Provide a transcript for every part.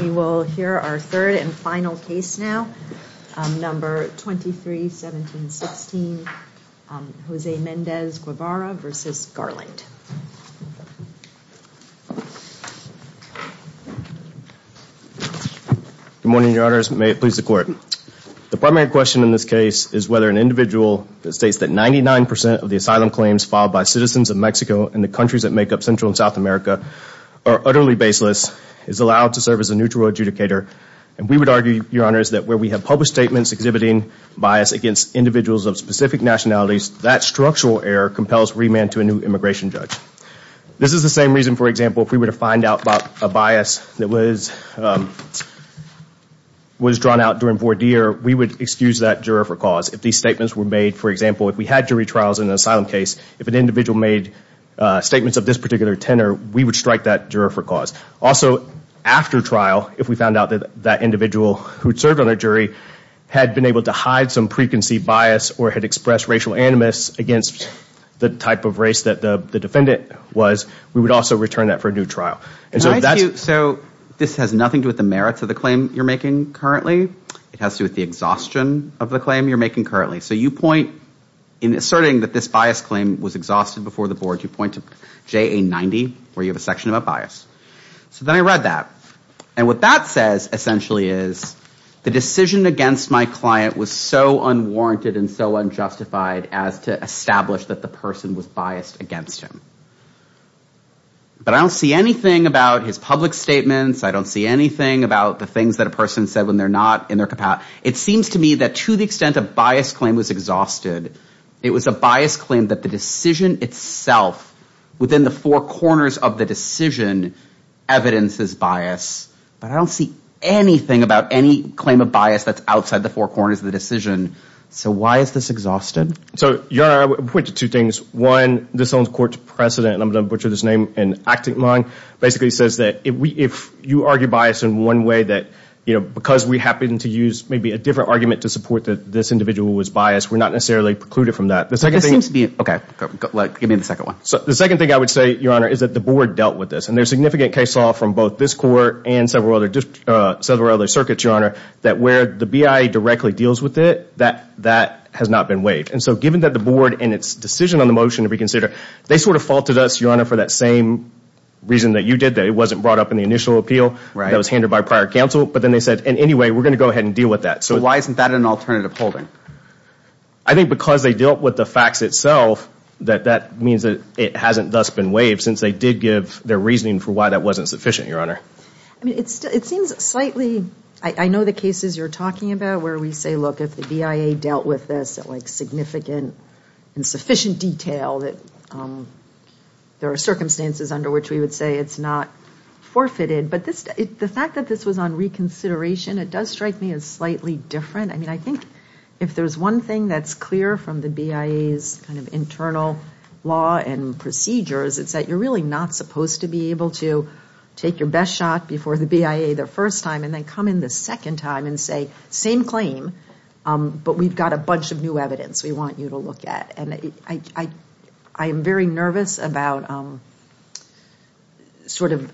We will hear our third and final case now, number 23-17-16, Jose Mendez-Guevara versus Garland. Good morning, Your Honors. May it please the Court. The primary question in this case is whether an individual that states that 99% of the asylum claims filed by citizens of Mexico and the countries that make up Central and South America are utterly baseless, is allowed to serve as a neutral adjudicator, and we would argue, Your Honors, that where we have published statements exhibiting bias against individuals of specific nationalities, that structural error compels remand to a new immigration judge. This is the same reason, for example, if we were to find out about a bias that was drawn out during voir dire, we would excuse that juror for cause. If these statements were made, for example, if we had jury trials in an asylum case, if an individual made statements of this particular tenor, we would strike that juror for cause. Also, after trial, if we found out that that individual who'd served on a jury had been able to hide some preconceived bias or had expressed racial animus against the type of race that the defendant was, we would also return that for a new trial. And so that's... So this has nothing to do with the merits of the claim you're making currently? It has to do with the exhaustion of the claim you're making currently. So you point in inserting that this bias claim was exhausted before the board. You point to JA90, where you have a section about bias. So then I read that. And what that says, essentially, is the decision against my client was so unwarranted and so unjustified as to establish that the person was biased against him. But I don't see anything about his public statements. I don't see anything about the things that a person said when they're not in their capacity. It seems to me that to the extent a bias claim was exhausted, it was a bias claim that the decision itself within the four corners of the decision evidences bias. But I don't see anything about any claim of bias that's outside the four corners of the decision. So why is this exhausted? So, Your Honor, I would point to two things. One, this owns court's precedent, and I'm going to butcher this name in acting line, basically says that if you argue bias in one way that, you know, because we happen to use maybe a different argument to support that this individual was biased, we're not necessarily precluded from that. This seems to be, okay, give me the second one. So the second thing I would say, Your Honor, is that the board dealt with this. And there's significant case law from both this court and several other circuits, Your Honor, that where the BIA directly deals with it, that has not been waived. And so given that the board and its decision on the motion to reconsider, they sort of faulted us, Your Honor, for that same reason that you did that. It wasn't brought up in the initial appeal that was handed by prior counsel. But then they said, in any way, we're going to go ahead and deal with that. So why isn't that an alternative holding? I think because they dealt with the facts itself, that that means that it hasn't thus been waived, since they did give their reasoning for why that wasn't sufficient, Your Honor. I mean, it seems slightly, I know the cases you're talking about where we say, look, if the BIA dealt with this at, like, significant and sufficient detail that there are circumstances under which we would say it's not forfeited. But the fact that this was on reconsideration, it does strike me as slightly different. I mean, I think if there's one thing that's clear from the BIA's kind of internal law and procedures, it's that you're really not supposed to be able to take your best shot before the BIA the first time and then come in the second time and say, same claim, but we've got a bunch of new evidence we want you to look at. And I am very nervous about sort of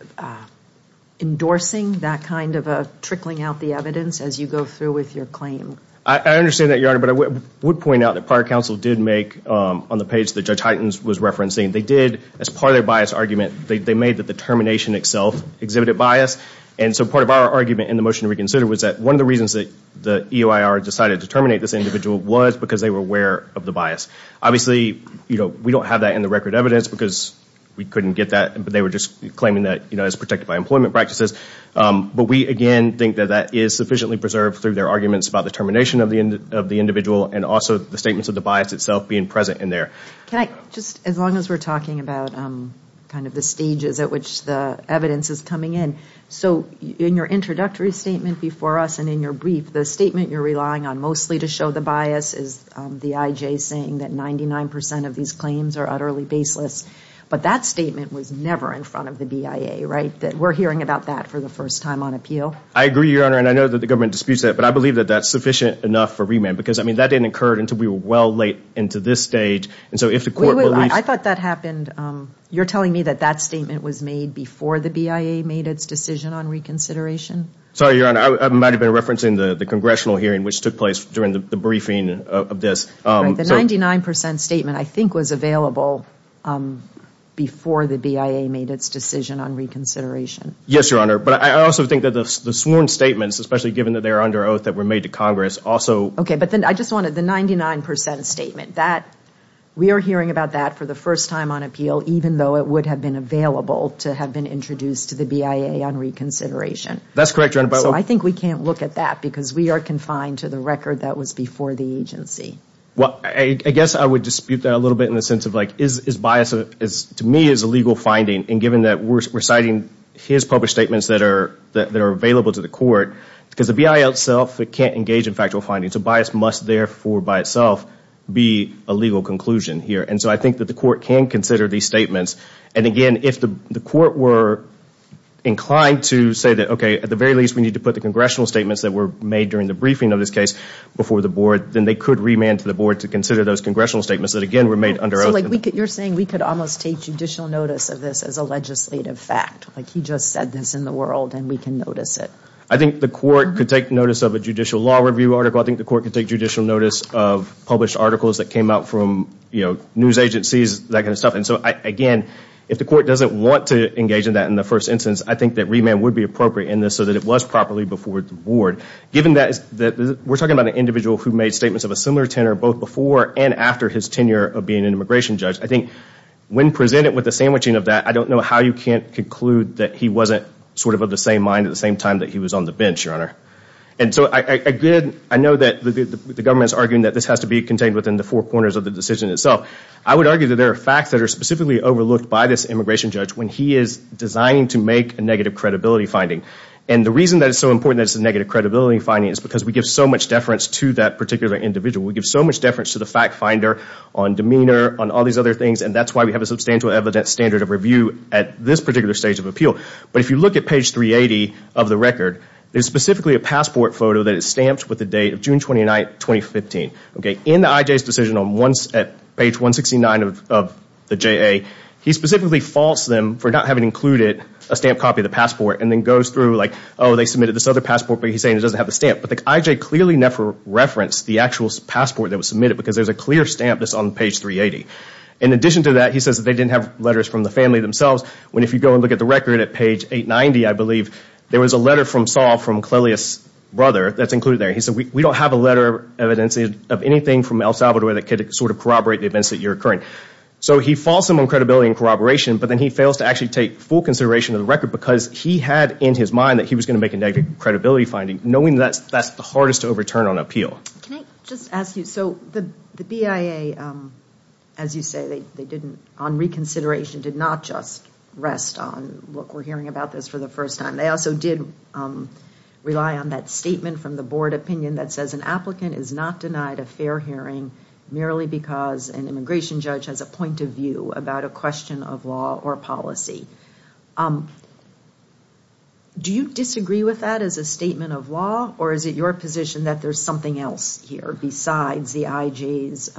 endorsing that kind of a trickling out the evidence as you go through with your claim. I understand that, Your Honor, but I would point out that prior counsel did make, on the page that Judge Huytens was referencing, they did, as part of their bias argument, they made that the termination itself exhibited bias. And so part of our argument in the motion reconsider was that one of the reasons that the EOIR decided to terminate this individual was because they were aware of the bias. Obviously, you know, we don't have that in the record evidence because we couldn't get that, but they were just claiming that, you know, it's protected by employment practices. But we, again, think that that is sufficiently preserved through their arguments about the termination of the individual and also the statements of the bias itself being present in there. Can I, just as long as we're talking about kind of the stages at which the evidence is coming in, so in your introductory statement before us and in your brief, the statement you're relying on mostly to show the bias is the IJ saying that 99% of these claims are utterly baseless. But that statement was never in front of the BIA, right? That we're hearing about that for the first time on appeal. I agree, Your Honor, and I know that the government disputes that, but I believe that that's sufficient enough for remand because, I mean, that didn't occur until we were well late into this stage. And so if the court believes... I thought that happened. You're telling me that that statement was made before the BIA made its decision on reconsideration? Sorry, Your Honor, I might have been referencing the the congressional hearing which took place during the briefing of this. The 99% statement, I think, was available before the BIA made its decision on reconsideration. Yes, Your Honor, but I also think that the sworn statements, especially given that they're under oath that were made to Congress, also... Okay, but then I just wanted the 99% statement. We are hearing about that for the first time on appeal, even though it would have been available to have been introduced to the BIA on reconsideration. That's correct, Your Honor, but... So I think we can't look at that because we are confined to the record that was before the agency. Well, I guess I would dispute that a little bit in the sense of, like, is bias, to me, is a legal finding, and given that we're citing his published statements that are available to the court, because the BIA itself can't engage in factual findings, so bias must, therefore, by itself be a legal conclusion here. And so I think that the court can consider these statements. And again, if the court were inclined to say that, okay, at the very least, we need to put the congressional statements that were made during the briefing of this case before the board, then they could remand to the board to consider those congressional statements that, again, were made under oath. So, like, you're saying we could almost take judicial notice of this as a legislative fact. Like, he just said this in the world, and we can notice it. I think the court could take notice of a judicial law review article. I think the court could take judicial notice of published articles that came out from, you know, news agencies, that kind of stuff. And so, again, if the court doesn't want to engage in that in the first instance, I think that remand would be appropriate in this so that it was properly before the board. Given that we're talking about an individual who made statements of a similar tenor both before and after his tenure of being an immigration judge, I think when presented with the sandwiching of that, I don't know how you can't conclude that he wasn't sort of of the same mind at the same time that he was on the bench, Your Honor. And so, again, I know that the government's arguing that this has to be contained within the four corners of the decision itself. I would argue that there are facts that are specifically overlooked by this immigration judge when he is designing to make a negative credibility finding. And the reason that it's so important that it's a negative credibility finding is because we give so much deference to that particular individual. We give so much deference to the fact finder on demeanor, on all these other things, and that's why we have a substantial evidence standard of review at this particular stage of appeal. But if you look at page 380 of the record, there's specifically a passport photo that is stamped with the date of June 29, 2015. Okay, in the I.J.'s decision on page 169 of the JA, he specifically faults them for not having included a stamp copy of the passport and then goes through like, oh, they submitted this other passport, but he's saying it doesn't have the stamp. But the I.J. clearly never referenced the actual passport that was submitted because there's a clear stamp that's on page 380. In addition to that, he says that they didn't have letters from the family themselves, when if you go and look at the record at page 890, I believe, there was a letter from Saul from Clelia's brother that's included there. He said, we don't have a letter of evidence of anything from El Salvador that could sort of corroborate the events that you're occurring. So he faults them on credibility and corroboration, but then he fails to actually take full consideration of the record because he had in his mind that he was going to make a negative credibility finding, knowing that that's the hardest to overturn on appeal. Can I just ask you, so the BIA, as you say, they didn't, on reconsideration, did not just rest on, look, we're hearing about this for the first time. They also did rely on that statement from the board opinion that says an applicant is not denied a fair hearing merely because an immigration judge has a point of view about a question of law or policy. Do you disagree with that as a statement of law or is it your position that there's something else here besides the I.J.'s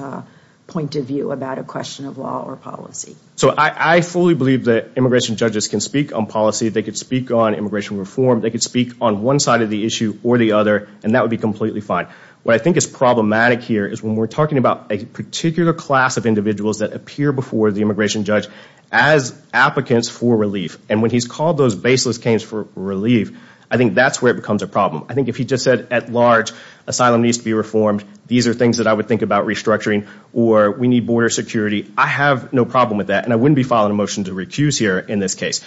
point of view about a question of law or policy? So I fully believe that immigration judges can speak on policy. They could speak on immigration reform. They could speak on one side of the issue or the other and that would be completely fine. What I think is problematic here is when we're talking about a particular class of individuals that appear before the immigration judge as applicants for relief and when he's called those baseless claims for relief, I think that's where it becomes a problem. I think if he just said at large, asylum needs to be reformed, these are things that I would think about restructuring or we need border security, I have no problem with that and I wouldn't be filing a motion to recuse here in this case.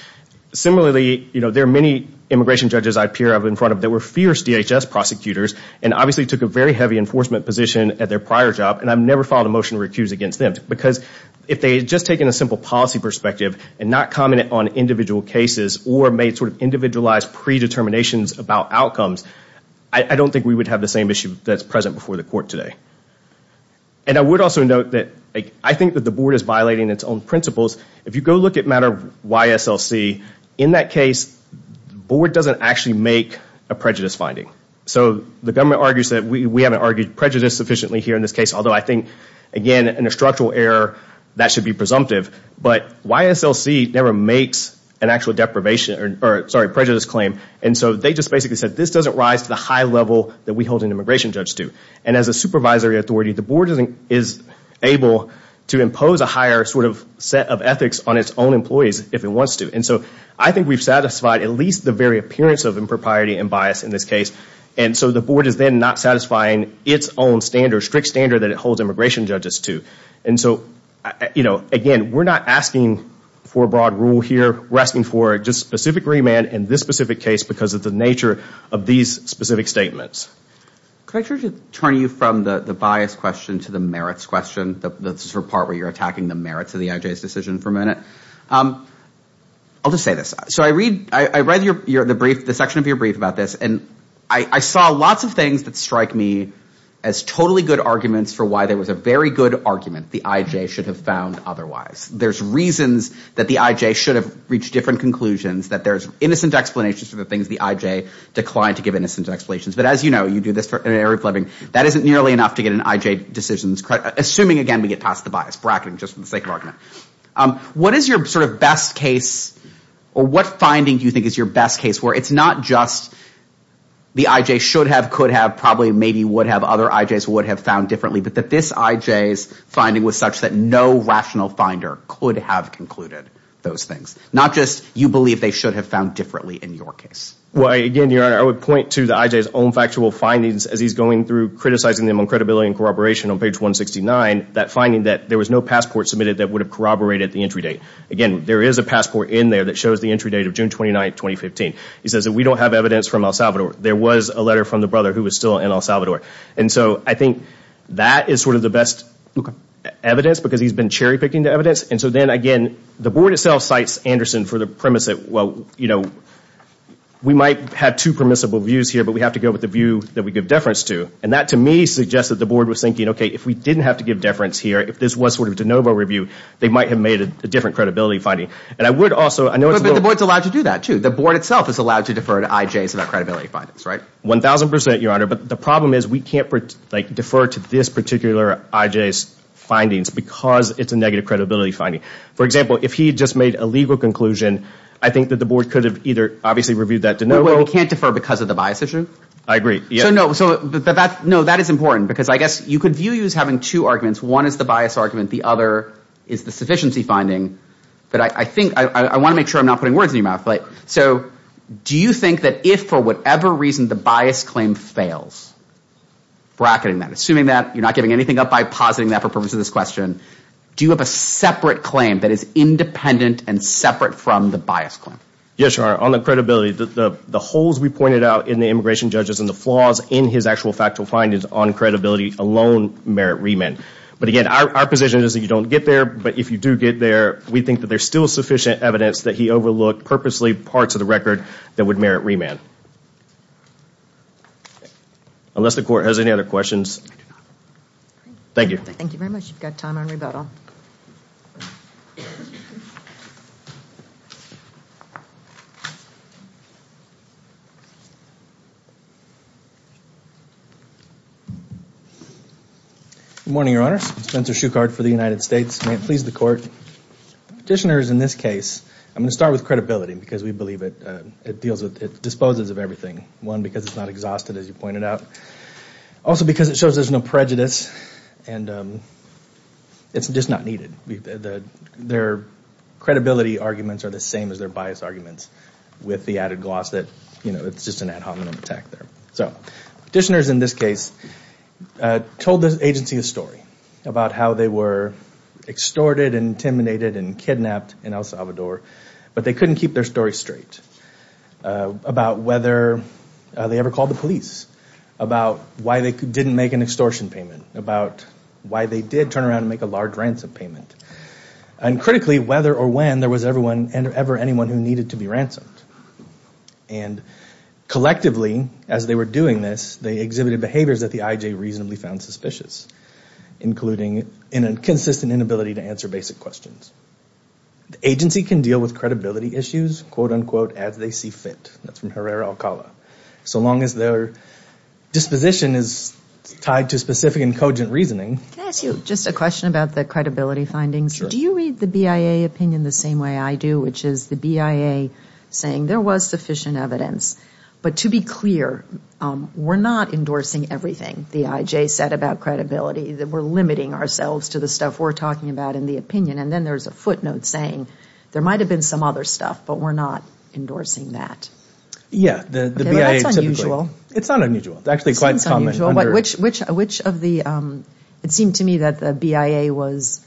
Similarly, you know, there are many immigration judges I appear up in front of that were fierce DHS prosecutors and obviously took a very heavy enforcement position at their prior job and I've never filed a motion to recuse against them because if they had just taken a simple policy perspective and not commented on individual cases or made sort of individualized pre-determinations about outcomes, I don't think we would have the same issue that's present before the court today. And I would also note that I think that the board is violating its own principles. If you go look at matter of YSLC, in that case, the board doesn't actually make a prejudice finding. So the government argues that we haven't argued prejudice sufficiently here in this case, although I think again, in a structural error, that should be presumptive, but YSLC never makes an actual deprivation or sorry, prejudice claim and so they just basically said this doesn't rise to the high level that we hold an immigration judge to and as a supervisory authority, the board isn't is able to impose a higher sort of set of ethics on its own employees if it wants to and so I think we've satisfied at least the very appearance of impropriety and bias in this case and so the board is then not satisfying its own standard, strict standard that it holds immigration judges to and so you know, again, we're not asking for a broad rule here. We're asking for just specific remand in this specific case because of the nature of these specific statements. Could I turn you from the bias question to the merits question, the sort of part where you're attacking the merits of the IJ's decision for a minute? I'll just say this. So I read, I read your, the brief, the section of your brief about this and I saw lots of things that strike me as totally good arguments for why there was a very good argument the IJ should have found otherwise. There's reasons that the IJ should have reached different conclusions, that there's innocent explanations for the things the IJ declined to give innocent explanations. But as you know, you do this for an area of living, that isn't nearly enough to get an IJ decisions, assuming again, we get past the bias, bracketing just for the sake of argument. What is your sort of best case or what finding do you think is your best case where it's not just the IJ should have, could have, probably maybe would have, other IJ's would have found differently, but that this IJ's finding was such that no rational finder could have concluded those things. Not just you believe they should have found differently in your case. Well, again, Your Honor, I would point to the IJ's own factual findings as he's going through criticizing them on credibility and corroboration on page 169, that finding that there was no passport submitted that would have corroborated the entry date. Again, there is a passport in there that shows the entry date of June 29, 2015. He says that we don't have evidence from El Salvador. There was a letter from the brother who was still in El Salvador. And so I think that is sort of the best evidence because he's been cherry-picking the evidence. And so then again, the board itself cites Anderson for the premise that, well, you know, we might have two permissible views here, but we have to go with the view that we give deference to. And that to me suggests that the board was thinking, okay, if we didn't have to give deference here, if this was sort of de novo review, they might have made a different credibility finding. And I would also, I know it's a little... But the board's allowed to do that, too. The board itself is allowed to defer to IJ's about credibility findings, right? 1,000%, Your Honor. But the problem is we can't defer to this particular IJ's findings because it's a negative credibility finding. For example, if he just made a legal conclusion, I think that the board could have either obviously reviewed that de novo... But we can't defer because of the bias issue? I agree. So no, that is important because I guess you could view you as having two arguments. One is the bias argument. The other is the sufficiency finding. But I think, I want to make sure I'm not putting words in your mouth, right? So do you think that if for whatever reason the bias claim fails, bracketing that, assuming that you're not giving anything up by positing that for purpose of this question, do you have a separate claim that is independent and separate from the bias claim? Yes, Your Honor. On the credibility, the holes we pointed out in the immigration judges and the flaws in his actual factual findings on credibility alone merit remand. But again, our position is that you don't get there. But if you do get there, we think that there's still sufficient evidence that he overlooked purposely parts of the record that would merit remand. Unless the court has any other questions. Thank you. Thank you very much. You've got time on rebuttal. Good morning, Your Honor. Spencer Shuchard for the United States. May it please the court. Petitioners in this case, I'm going to start with credibility because we believe it, it deals with, it disposes of everything. One, because it's not exhausted as you pointed out. Also because it shows there's no prejudice and it's just not needed. Their credibility arguments are the same as their bias arguments with the added gloss that it's just an ad hominem attack there. So petitioners in this case told the agency a story about how they were extorted and intimidated and kidnapped in El Salvador, but they couldn't keep their story straight. About whether they ever called the police. About why they didn't make an extortion payment. About why they did turn around and make a large ransom payment. And critically, whether or when there was ever anyone who needed to be ransomed. And collectively, as they were doing this, they exhibited behaviors that the IJ reasonably found suspicious, including a consistent inability to answer basic questions. The agency can deal with credibility issues, quote unquote, as they see fit. That's from Herrera-Alcala. So long as their disposition is tied to specific and cogent reasoning. Can I ask you just a question about the credibility findings? Sure. Do you read the BIA opinion the same way I do, which is the BIA saying there was sufficient evidence, but to be clear, we're not endorsing everything the IJ said about credibility. We're limiting ourselves to the stuff we're talking about in the opinion. And then there's a footnote saying there might have been some other stuff, but we're not endorsing that. Yeah. That's unusual. It's not unusual. It's actually quite common. Which of the, it seemed to me that the BIA was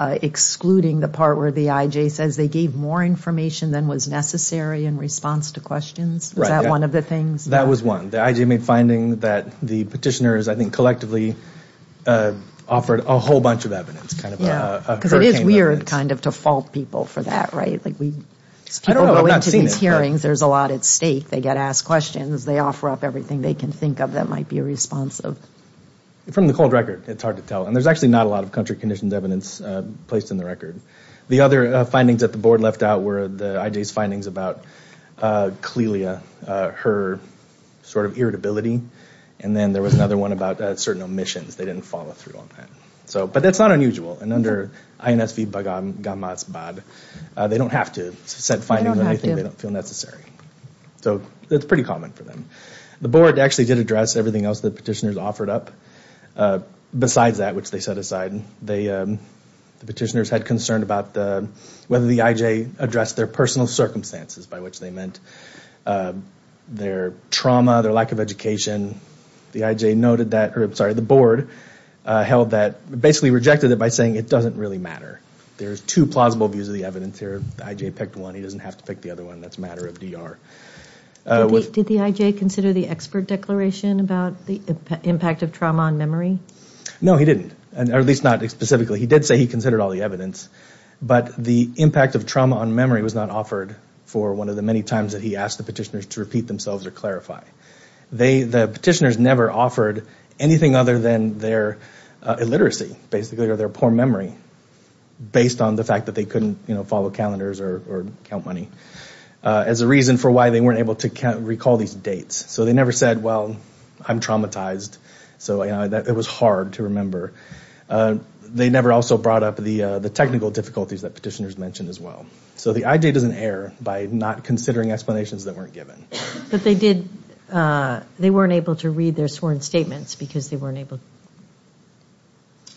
excluding the part where the IJ says they gave more information than was necessary in response to questions. Was that one of the things? That was one. The IJ made finding that the petitioners, I think, collectively offered a whole bunch of evidence. Because it is weird kind of to fault people for that, right? I don't know. People go into these hearings. There's a lot at stake. They get asked questions. They offer up everything they can think of that might be responsive. From the cold record, it's hard to tell. And there's actually not a lot of country-conditioned evidence placed in the record. The other findings that the board left out were the IJ's findings about Clelia, her sort of irritability. And then there was another one about certain omissions. They didn't follow through on that. But that's not unusual. And under INSV-Baghamasbad, they don't have to set findings that I think they don't feel necessary. So it's pretty common for them. The board actually did address everything else the petitioners offered up besides that, which they set aside. The petitioners had concern about whether the IJ addressed their personal circumstances, by which they meant their trauma, their lack of education. The board held that, basically rejected it by saying it doesn't really matter. There's two plausible views of the evidence here. The IJ picked one. He doesn't have to pick the other one. That's a matter of DR. Did the IJ consider the expert declaration about the impact of trauma on memory? No, he didn't. At least not specifically. He did say he considered all the evidence. But the impact of trauma on memory was not offered for one of the many times that he asked the petitioners to repeat themselves or clarify. The petitioners never offered anything other than their illiteracy, basically, or their poor memory, based on the fact that they couldn't follow calendars or count money, as a reason for why they weren't able to recall these dates. So they never said, well, I'm traumatized. So it was hard to remember. They never also brought up the technical difficulties that petitioners mentioned as well. So the IJ doesn't err by not considering explanations that weren't given. But they weren't able to read their sworn statements because they weren't able to.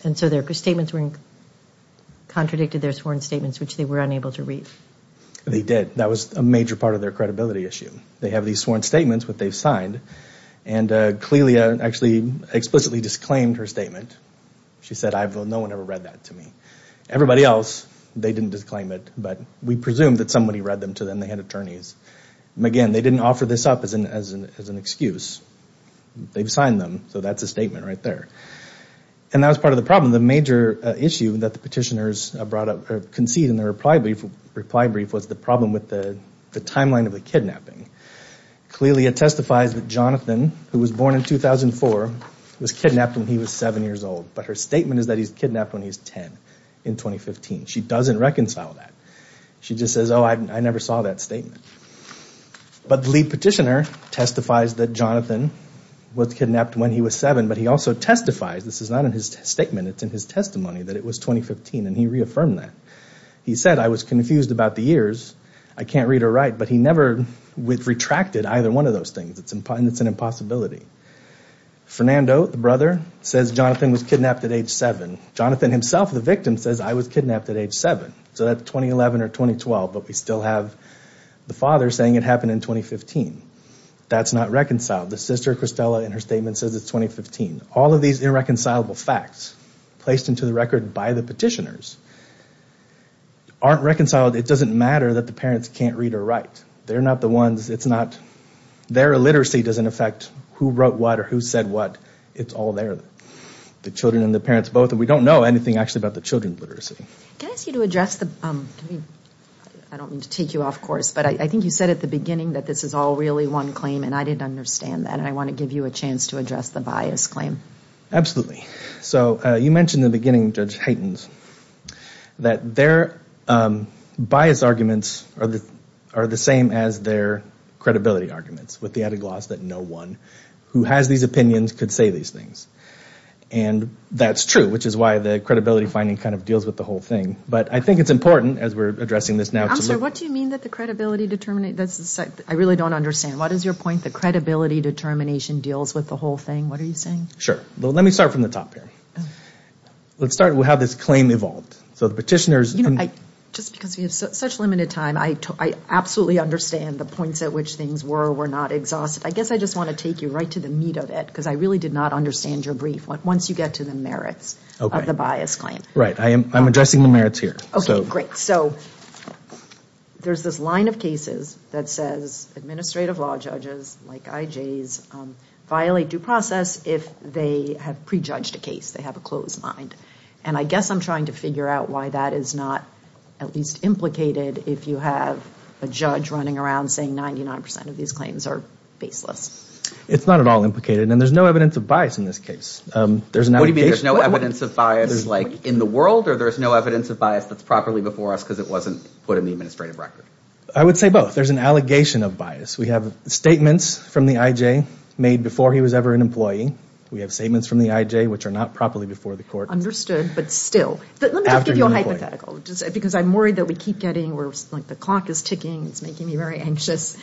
And so their statements contradicted their sworn statements, which they were unable to read. They did. That was a major part of their credibility issue. They have these sworn statements that they've signed. And Clelia actually explicitly disclaimed her statement. She said, no one ever read that to me. Everybody else, they didn't disclaim it. But we presume that somebody read them to them. They had attorneys. Again, they didn't offer this up as an excuse. They've signed them. So that's a statement right there. And that was part of the problem. One of the major issues that the petitioners brought up or conceded in their reply brief was the problem with the timeline of the kidnapping. Clelia testifies that Jonathan, who was born in 2004, was kidnapped when he was seven years old. But her statement is that he was kidnapped when he was ten in 2015. She doesn't reconcile that. She just says, oh, I never saw that statement. But the lead petitioner testifies that Jonathan was kidnapped when he was seven. But he also testifies. This is not in his statement. It's in his testimony that it was 2015. And he reaffirmed that. He said, I was confused about the years. I can't read or write. But he never retracted either one of those things. And it's an impossibility. Fernando, the brother, says Jonathan was kidnapped at age seven. Jonathan himself, the victim, says, I was kidnapped at age seven. So that's 2011 or 2012. But we still have the father saying it happened in 2015. That's not reconciled. The sister, Christella, in her statement says it's 2015. All of these irreconcilable facts placed into the record by the petitioners aren't reconciled. It doesn't matter that the parents can't read or write. They're not the ones. Their illiteracy doesn't affect who wrote what or who said what. It's all there, the children and the parents both. And we don't know anything, actually, about the children's literacy. Can I ask you to address the – I don't mean to take you off course, but I think you said at the beginning that this is all really one claim, and I didn't understand that. And I want to give you a chance to address the bias claim. So you mentioned in the beginning, Judge Haytens, that their bias arguments are the same as their credibility arguments, with the added gloss that no one who has these opinions could say these things. And that's true, which is why the credibility finding kind of deals with the whole thing. But I think it's important, as we're addressing this now, to look – What do you mean that the credibility – I really don't understand. What is your point that credibility determination deals with the whole thing? What are you saying? Sure. Well, let me start from the top here. Let's start with how this claim evolved. So the petitioners – You know, just because we have such limited time, I absolutely understand the points at which things were or were not exhausted. I guess I just want to take you right to the meat of it, because I really did not understand your brief, once you get to the merits of the bias claim. Right. I'm addressing the merits here. Okay, great. So there's this line of cases that says administrative law judges, like IJs, violate due process if they have prejudged a case, they have a closed mind. And I guess I'm trying to figure out why that is not at least implicated if you have a judge running around saying 99 percent of these claims are baseless. It's not at all implicated, and there's no evidence of bias in this case. What do you mean there's no evidence of bias in the world, or there's no evidence of bias that's properly before us because it wasn't put in the administrative record? I would say both. There's an allegation of bias. We have statements from the IJ made before he was ever an employee. We have statements from the IJ which are not properly before the court. Understood, but still. Let me just give you a hypothetical, because I'm worried that we keep getting – the clock is ticking, it's making me very anxious.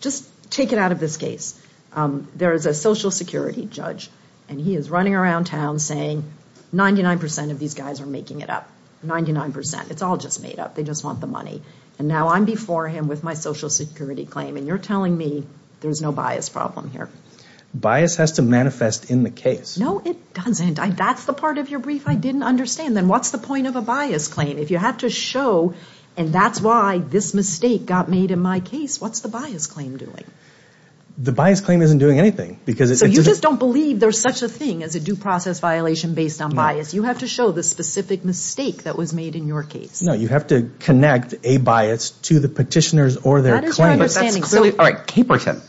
Just take it out of this case. There is a social security judge, and he is running around town saying 99 percent of these guys are making it up, 99 percent. It's all just made up. They just want the money. And now I'm before him with my social security claim, and you're telling me there's no bias problem here. Bias has to manifest in the case. No, it doesn't. That's the part of your brief I didn't understand. Then what's the point of a bias claim? If you have to show, and that's why this mistake got made in my case, what's the bias claim doing? The bias claim isn't doing anything. So you just don't believe there's such a thing as a due process violation based on bias. You have to show the specific mistake that was made in your case. No, you have to connect a bias to the petitioners or their claims. That is your understanding. All right, Caperton.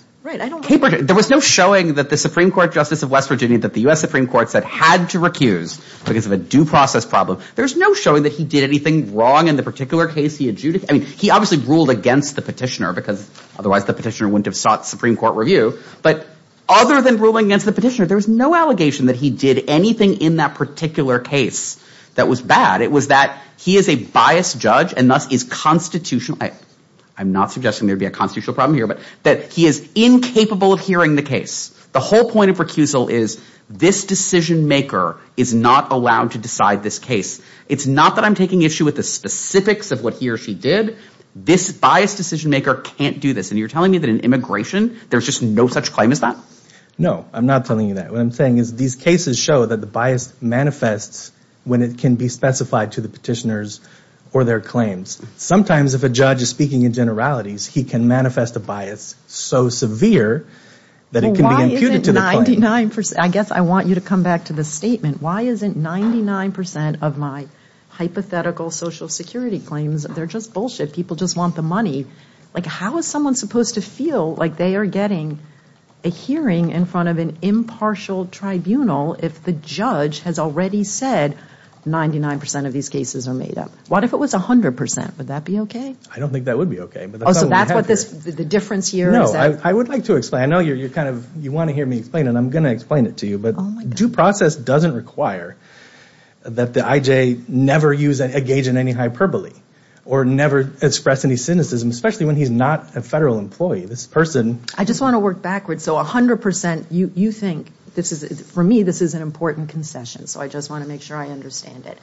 There was no showing that the Supreme Court Justice of West Virginia that the U.S. Supreme Court said had to recuse because of a due process problem. There's no showing that he did anything wrong in the particular case he adjudicated. He obviously ruled against the petitioner, because otherwise the petitioner wouldn't have sought Supreme Court review. But other than ruling against the petitioner, there was no allegation that he did anything in that particular case that was bad. It was that he is a biased judge and thus is constitutional. I'm not suggesting there would be a constitutional problem here, but that he is incapable of hearing the case. The whole point of recusal is this decision-maker is not allowed to decide this case. It's not that I'm taking issue with the specifics of what he or she did. This biased decision-maker can't do this. And you're telling me that in immigration there's just no such claim as that? No, I'm not telling you that. What I'm saying is these cases show that the bias manifests when it can be specified to the petitioners or their claims. Sometimes if a judge is speaking in generalities, he can manifest a bias so severe that it can be imputed to the claim. I guess I want you to come back to the statement. Why isn't 99% of my hypothetical Social Security claims, they're just bullshit. People just want the money. How is someone supposed to feel like they are getting a hearing in front of an impartial tribunal if the judge has already said 99% of these cases are made up? What if it was 100%? Would that be okay? I don't think that would be okay. So that's what the difference here is? No, I would like to explain. I know you want to hear me explain, and I'm going to explain it to you. But due process doesn't require that the IJ never engage in any hyperbole or never express any cynicism, especially when he's not a federal employee. This person... I just want to work backwards. So 100%, you think, for me, this is an important concession, so I just want to make sure I understand it.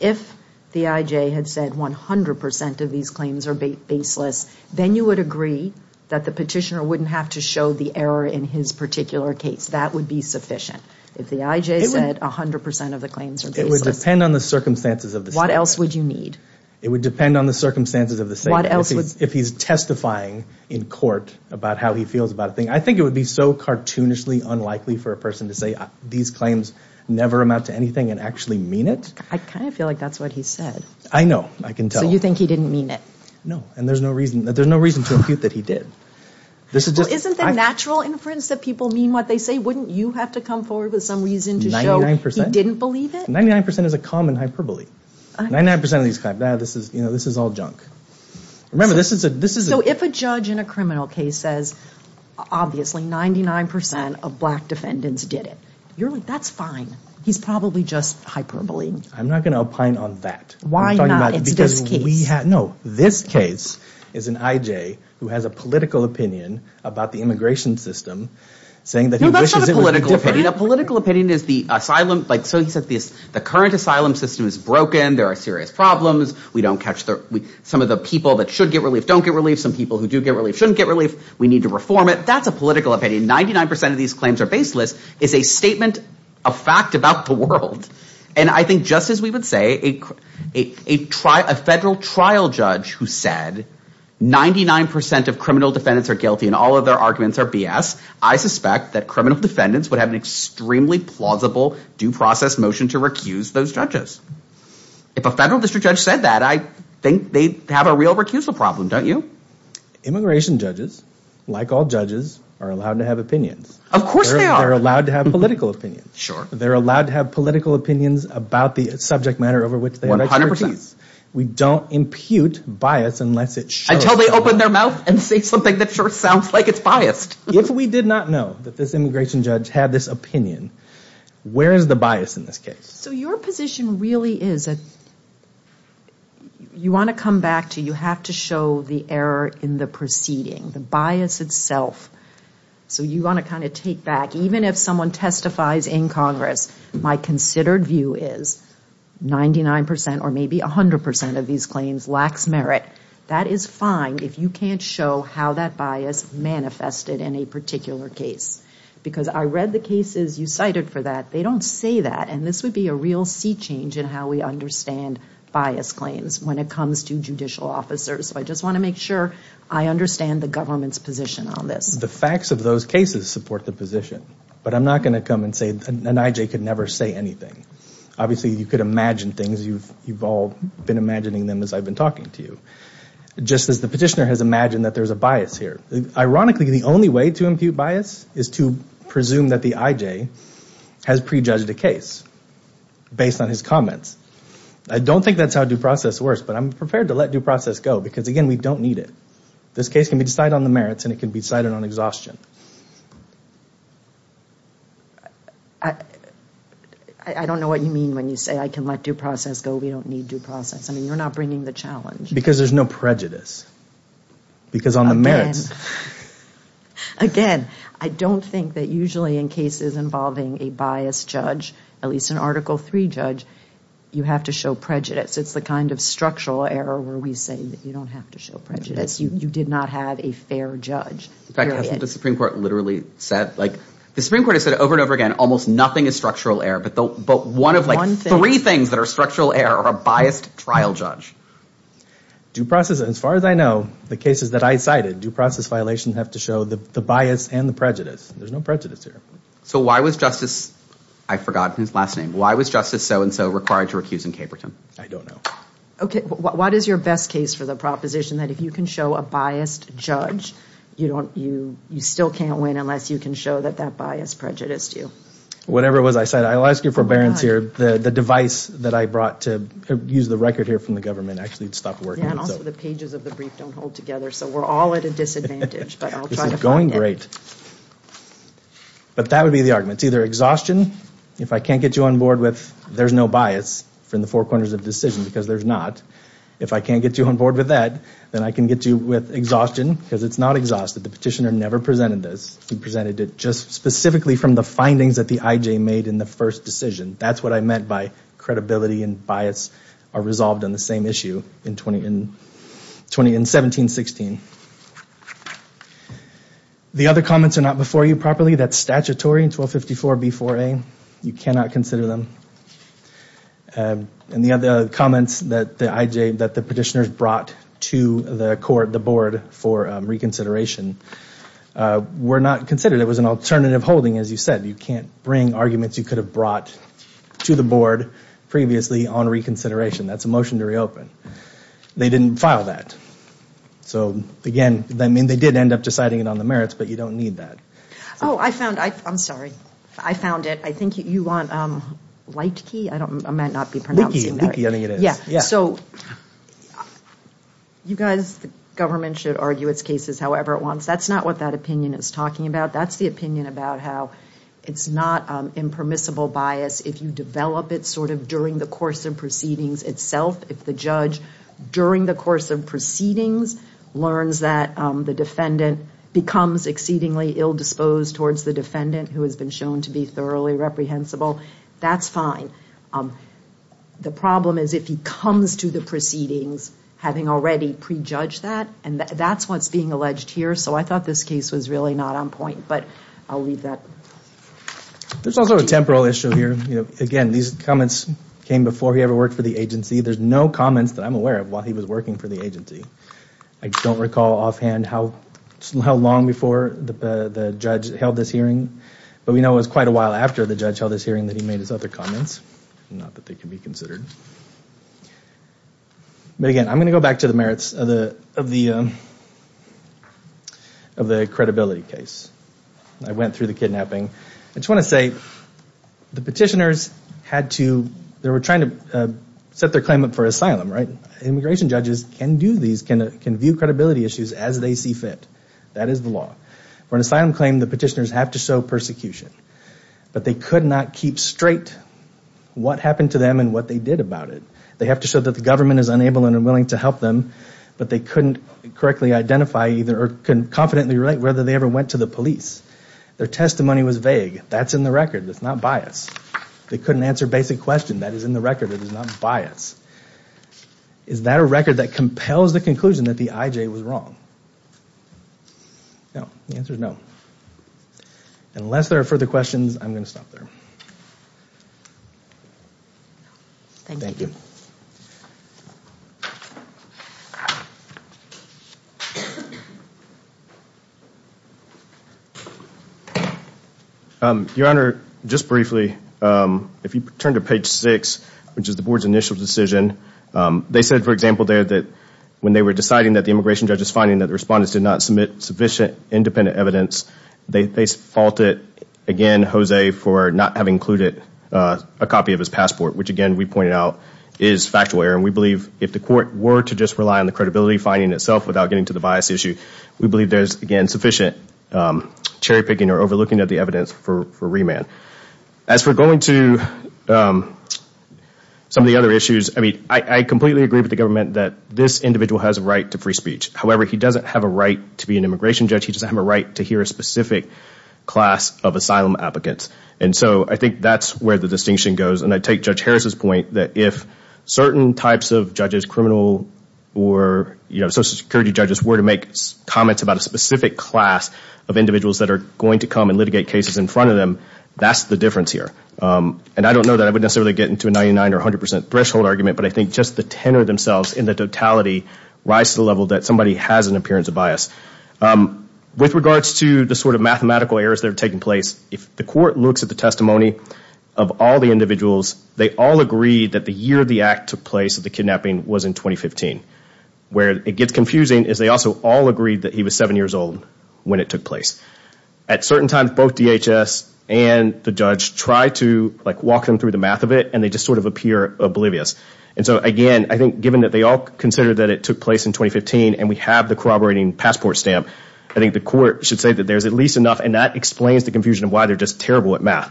If the IJ had said 100% of these claims are baseless, then you would agree that the petitioner wouldn't have to show the error in his particular case. That would be sufficient. If the IJ said 100% of the claims are baseless... It would depend on the circumstances of the statement. What else would you need? It would depend on the circumstances of the statement. If he's testifying in court about how he feels about a thing, I think it would be so cartoonishly unlikely for a person to say, these claims never amount to anything and actually mean it. I kind of feel like that's what he said. I know. I can tell. So you think he didn't mean it? No, and there's no reason to impute that he did. Isn't it natural inference that people mean what they say? Wouldn't you have to come forward with some reason to show he didn't believe it? 99% is a common hyperbole. 99% of these claims, this is all junk. Remember, this is a... So if a judge in a criminal case says, obviously 99% of black defendants did it, you're like, that's fine. He's probably just hyperbole. I'm not going to opine on that. Why not? It's this case. No, this case is an IJ who has a political opinion about the immigration system saying that he wishes it was a different... A political opinion is the asylum... There are serious problems. We don't catch... Some of the people that should get relief don't get relief. Some people who do get relief shouldn't get relief. We need to reform it. That's a political opinion. 99% of these claims are baseless. It's a statement, a fact about the world. And I think just as we would say a federal trial judge who said 99% of criminal defendants are guilty and all of their arguments are BS, I suspect that criminal defendants would have an extremely plausible due process motion to recuse those judges. If a federal district judge said that, I think they'd have a real recusal problem, don't you? Immigration judges, like all judges, are allowed to have opinions. Of course they are. They're allowed to have political opinions. Sure. They're allowed to have political opinions about the subject matter over which they have expertise. We don't impute bias unless it shows... Until they open their mouth and say something that sure sounds like it's biased. If we did not know that this immigration judge had this opinion, where is the bias in this case? So your position really is that you want to come back to you have to show the error in the proceeding, the bias itself. So you want to kind of take back, even if someone testifies in Congress, my considered view is 99% or maybe 100% of these claims lacks merit. That is fine if you can't show how that bias manifested in a particular case. Because I read the cases you cited for that. They don't say that. And this would be a real sea change in how we understand bias claims when it comes to judicial officers. So I just want to make sure I understand the government's position on this. The facts of those cases support the position. But I'm not going to come and say an IJ could never say anything. Obviously you could imagine things. You've all been imagining them as I've been talking to you. Just as the petitioner has imagined that there's a bias here. Ironically, the only way to impute bias is to presume that the IJ has prejudged a case based on his comments. I don't think that's how due process works, but I'm prepared to let due process go because, again, we don't need it. This case can be decided on the merits and it can be decided on exhaustion. I don't know what you mean when you say I can let due process go. We don't need due process. I mean, you're not bringing the challenge. Because there's no prejudice. Because on the merits... Again, I don't think that usually in cases involving a biased judge, at least an Article III judge, you have to show prejudice. It's the kind of structural error where we say that you don't have to show prejudice. You did not have a fair judge. In fact, hasn't the Supreme Court literally said? The Supreme Court has said over and over again almost nothing is structural error, but one of three things that are structural error are biased trial judge. Due process, as far as I know, the cases that I cited, due process violations have to show the bias and the prejudice. There's no prejudice here. So why was Justice... I forgot his last name. Why was Justice so-and-so required to recuse in Caperton? I don't know. Okay. What is your best case for the proposition that if you can show a biased judge, you still can't win unless you can show that that bias prejudiced you? Whatever it was I said, I'll ask your forbearance here. The device that I brought to use the record here from the government actually stopped working. Yeah, and also the pages of the brief don't hold together, so we're all at a disadvantage, but I'll try to find it. This is going great. But that would be the argument. It's either exhaustion, if I can't get you on board with there's no bias from the four corners of the decision because there's not. If I can't get you on board with that, then I can get you with exhaustion because it's not exhausted. The petitioner never presented this. He presented it just specifically from the findings that the IJ made in the first decision. That's what I meant by credibility and bias are resolved on the same issue in 17-16. The other comments are not before you properly. That's statutory in 1254b-4a. You cannot consider them. And the other comments that the petitioners brought to the board for reconsideration were not considered. It was an alternative holding, as you said. You can't bring arguments you could have brought to the board previously on reconsideration. That's a motion to reopen. They didn't file that. So, again, they did end up deciding it on the merits, but you don't need that. Oh, I found it. I'm sorry. I found it. I think you want Leitke. I might not be pronouncing that right. Leitke, I think it is. So you guys, the government should argue its cases however it wants. That's not what that opinion is talking about. That's the opinion about how it's not impermissible bias if you develop it sort of during the course of proceedings itself. If the judge during the course of proceedings learns that the defendant becomes exceedingly ill-disposed towards the defendant who has been shown to be thoroughly reprehensible, that's fine. The problem is if he comes to the proceedings having already prejudged that, and that's what's being alleged here. So I thought this case was really not on point, but I'll leave that. There's also a temporal issue here. Again, these comments came before he ever worked for the agency. There's no comments that I'm aware of while he was working for the agency. I don't recall offhand how long before the judge held this hearing, but we know it was quite a while after the judge held this hearing that he made his other comments, not that they can be considered. But again, I'm going to go back to the merits of the credibility case. I went through the kidnapping. I just want to say the petitioners had to, they were trying to set their claim up for asylum. Immigration judges can do these, can view credibility issues as they see fit. That is the law. For an asylum claim, the petitioners have to show persecution, but they could not keep straight what happened to them and what they did about it. They have to show that the government is unable and unwilling to help them, but they couldn't correctly identify or confidently relate whether they ever went to the police. Their testimony was vague. That's in the record. That's not bias. They couldn't answer basic questions. That is in the record. It is not bias. Is that a record that compels the conclusion that the IJ was wrong? No. The answer is no. Unless there are further questions, I'm going to stop there. Thank you. Your Honor, just briefly, if you turn to page six, which is the board's initial decision, they said, for example, there that when they were deciding that the immigration judge was finding that the respondents did not submit sufficient independent evidence, they faulted, again, Jose for not having included a copy of his passport, which, again, we pointed out is factual error. We believe if the court were to just rely on the credibility finding itself without getting to the bias issue, we believe there is, again, sufficient cherry picking or overlooking of the evidence for remand. As for going to some of the other issues, I completely agree with the government that this individual has a right to free speech. However, he doesn't have a right to be an immigration judge. He doesn't have a right to hear a specific class of asylum applicants. I think that is where the distinction goes. I take Judge Harris' point that if certain types of judges, criminal or social security judges, were to make comments about a specific class of individuals that are going to come and litigate cases in front of them, that is the difference here. I don't know that I would necessarily get into a 99% or 100% threshold argument, but I think just the tenor themselves in the totality rise to the level that somebody has an appearance of bias. With regards to the sort of mathematical errors that are taking place, if the court looks at the testimony of all the individuals, they all agreed that the year the act took place of the kidnapping was in 2015. Where it gets confusing is they also all agreed that he was seven years old when it took place. At certain times, both DHS and the judge try to walk them through the math of it, and they just sort of appear oblivious. Again, I think given that they all considered that it took place in 2015, and we have the corroborating passport stamp, I think the court should say that there is at least enough, and that explains the confusion of why they are just terrible at math.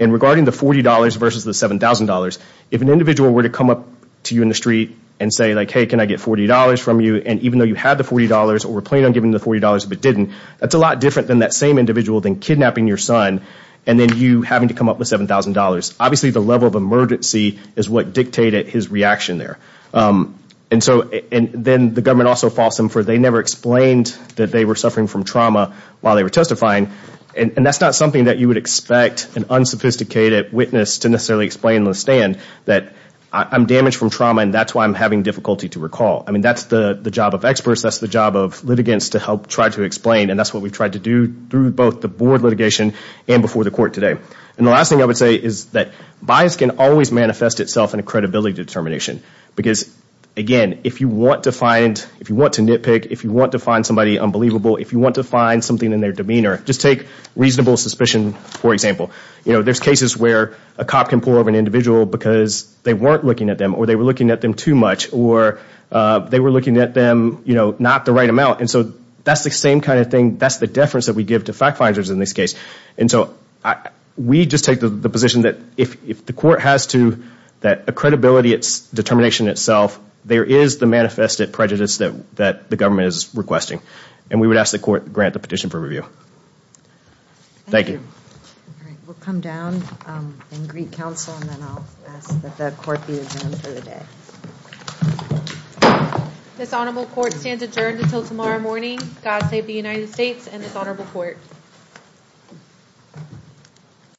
Regarding the $40 versus the $7,000, if an individual were to come up to you in the street and say, hey, can I get $40 from you, and even though you had the $40 or were planning on giving the $40 but didn't, that is a lot different than that same individual than kidnapping your son and then you having to come up with $7,000. Obviously, the level of emergency is what dictated his reaction there. Then the government also false them, for they never explained that they were suffering from trauma while they were testifying, and that is not something that you would expect an unsophisticated witness to necessarily explain on the stand, that I am damaged from trauma and that is why I am having difficulty to recall. That is the job of experts. That is the job of litigants to help try to explain, and that is what we have tried to do through both the board litigation and before the court today. The last thing I would say is that bias can always manifest itself in a credibility determination. Again, if you want to nitpick, if you want to find somebody unbelievable, if you want to find something in their demeanor, just take reasonable suspicion, for example. There are cases where a cop can pull over an individual because they weren't looking at them, or they were looking at them too much, or they were looking at them not the right amount. That is the same kind of thing. That is the difference that we give to fact finders in this case. We just take the position that if the court has to, that a credibility determination itself, there is the manifested prejudice that the government is requesting. We would ask the court to grant the petition for review. Thank you. We will come down and greet counsel, and then I will ask that the court be adjourned for the day. This honorable court stands adjourned until tomorrow morning. God save the United States and this honorable court.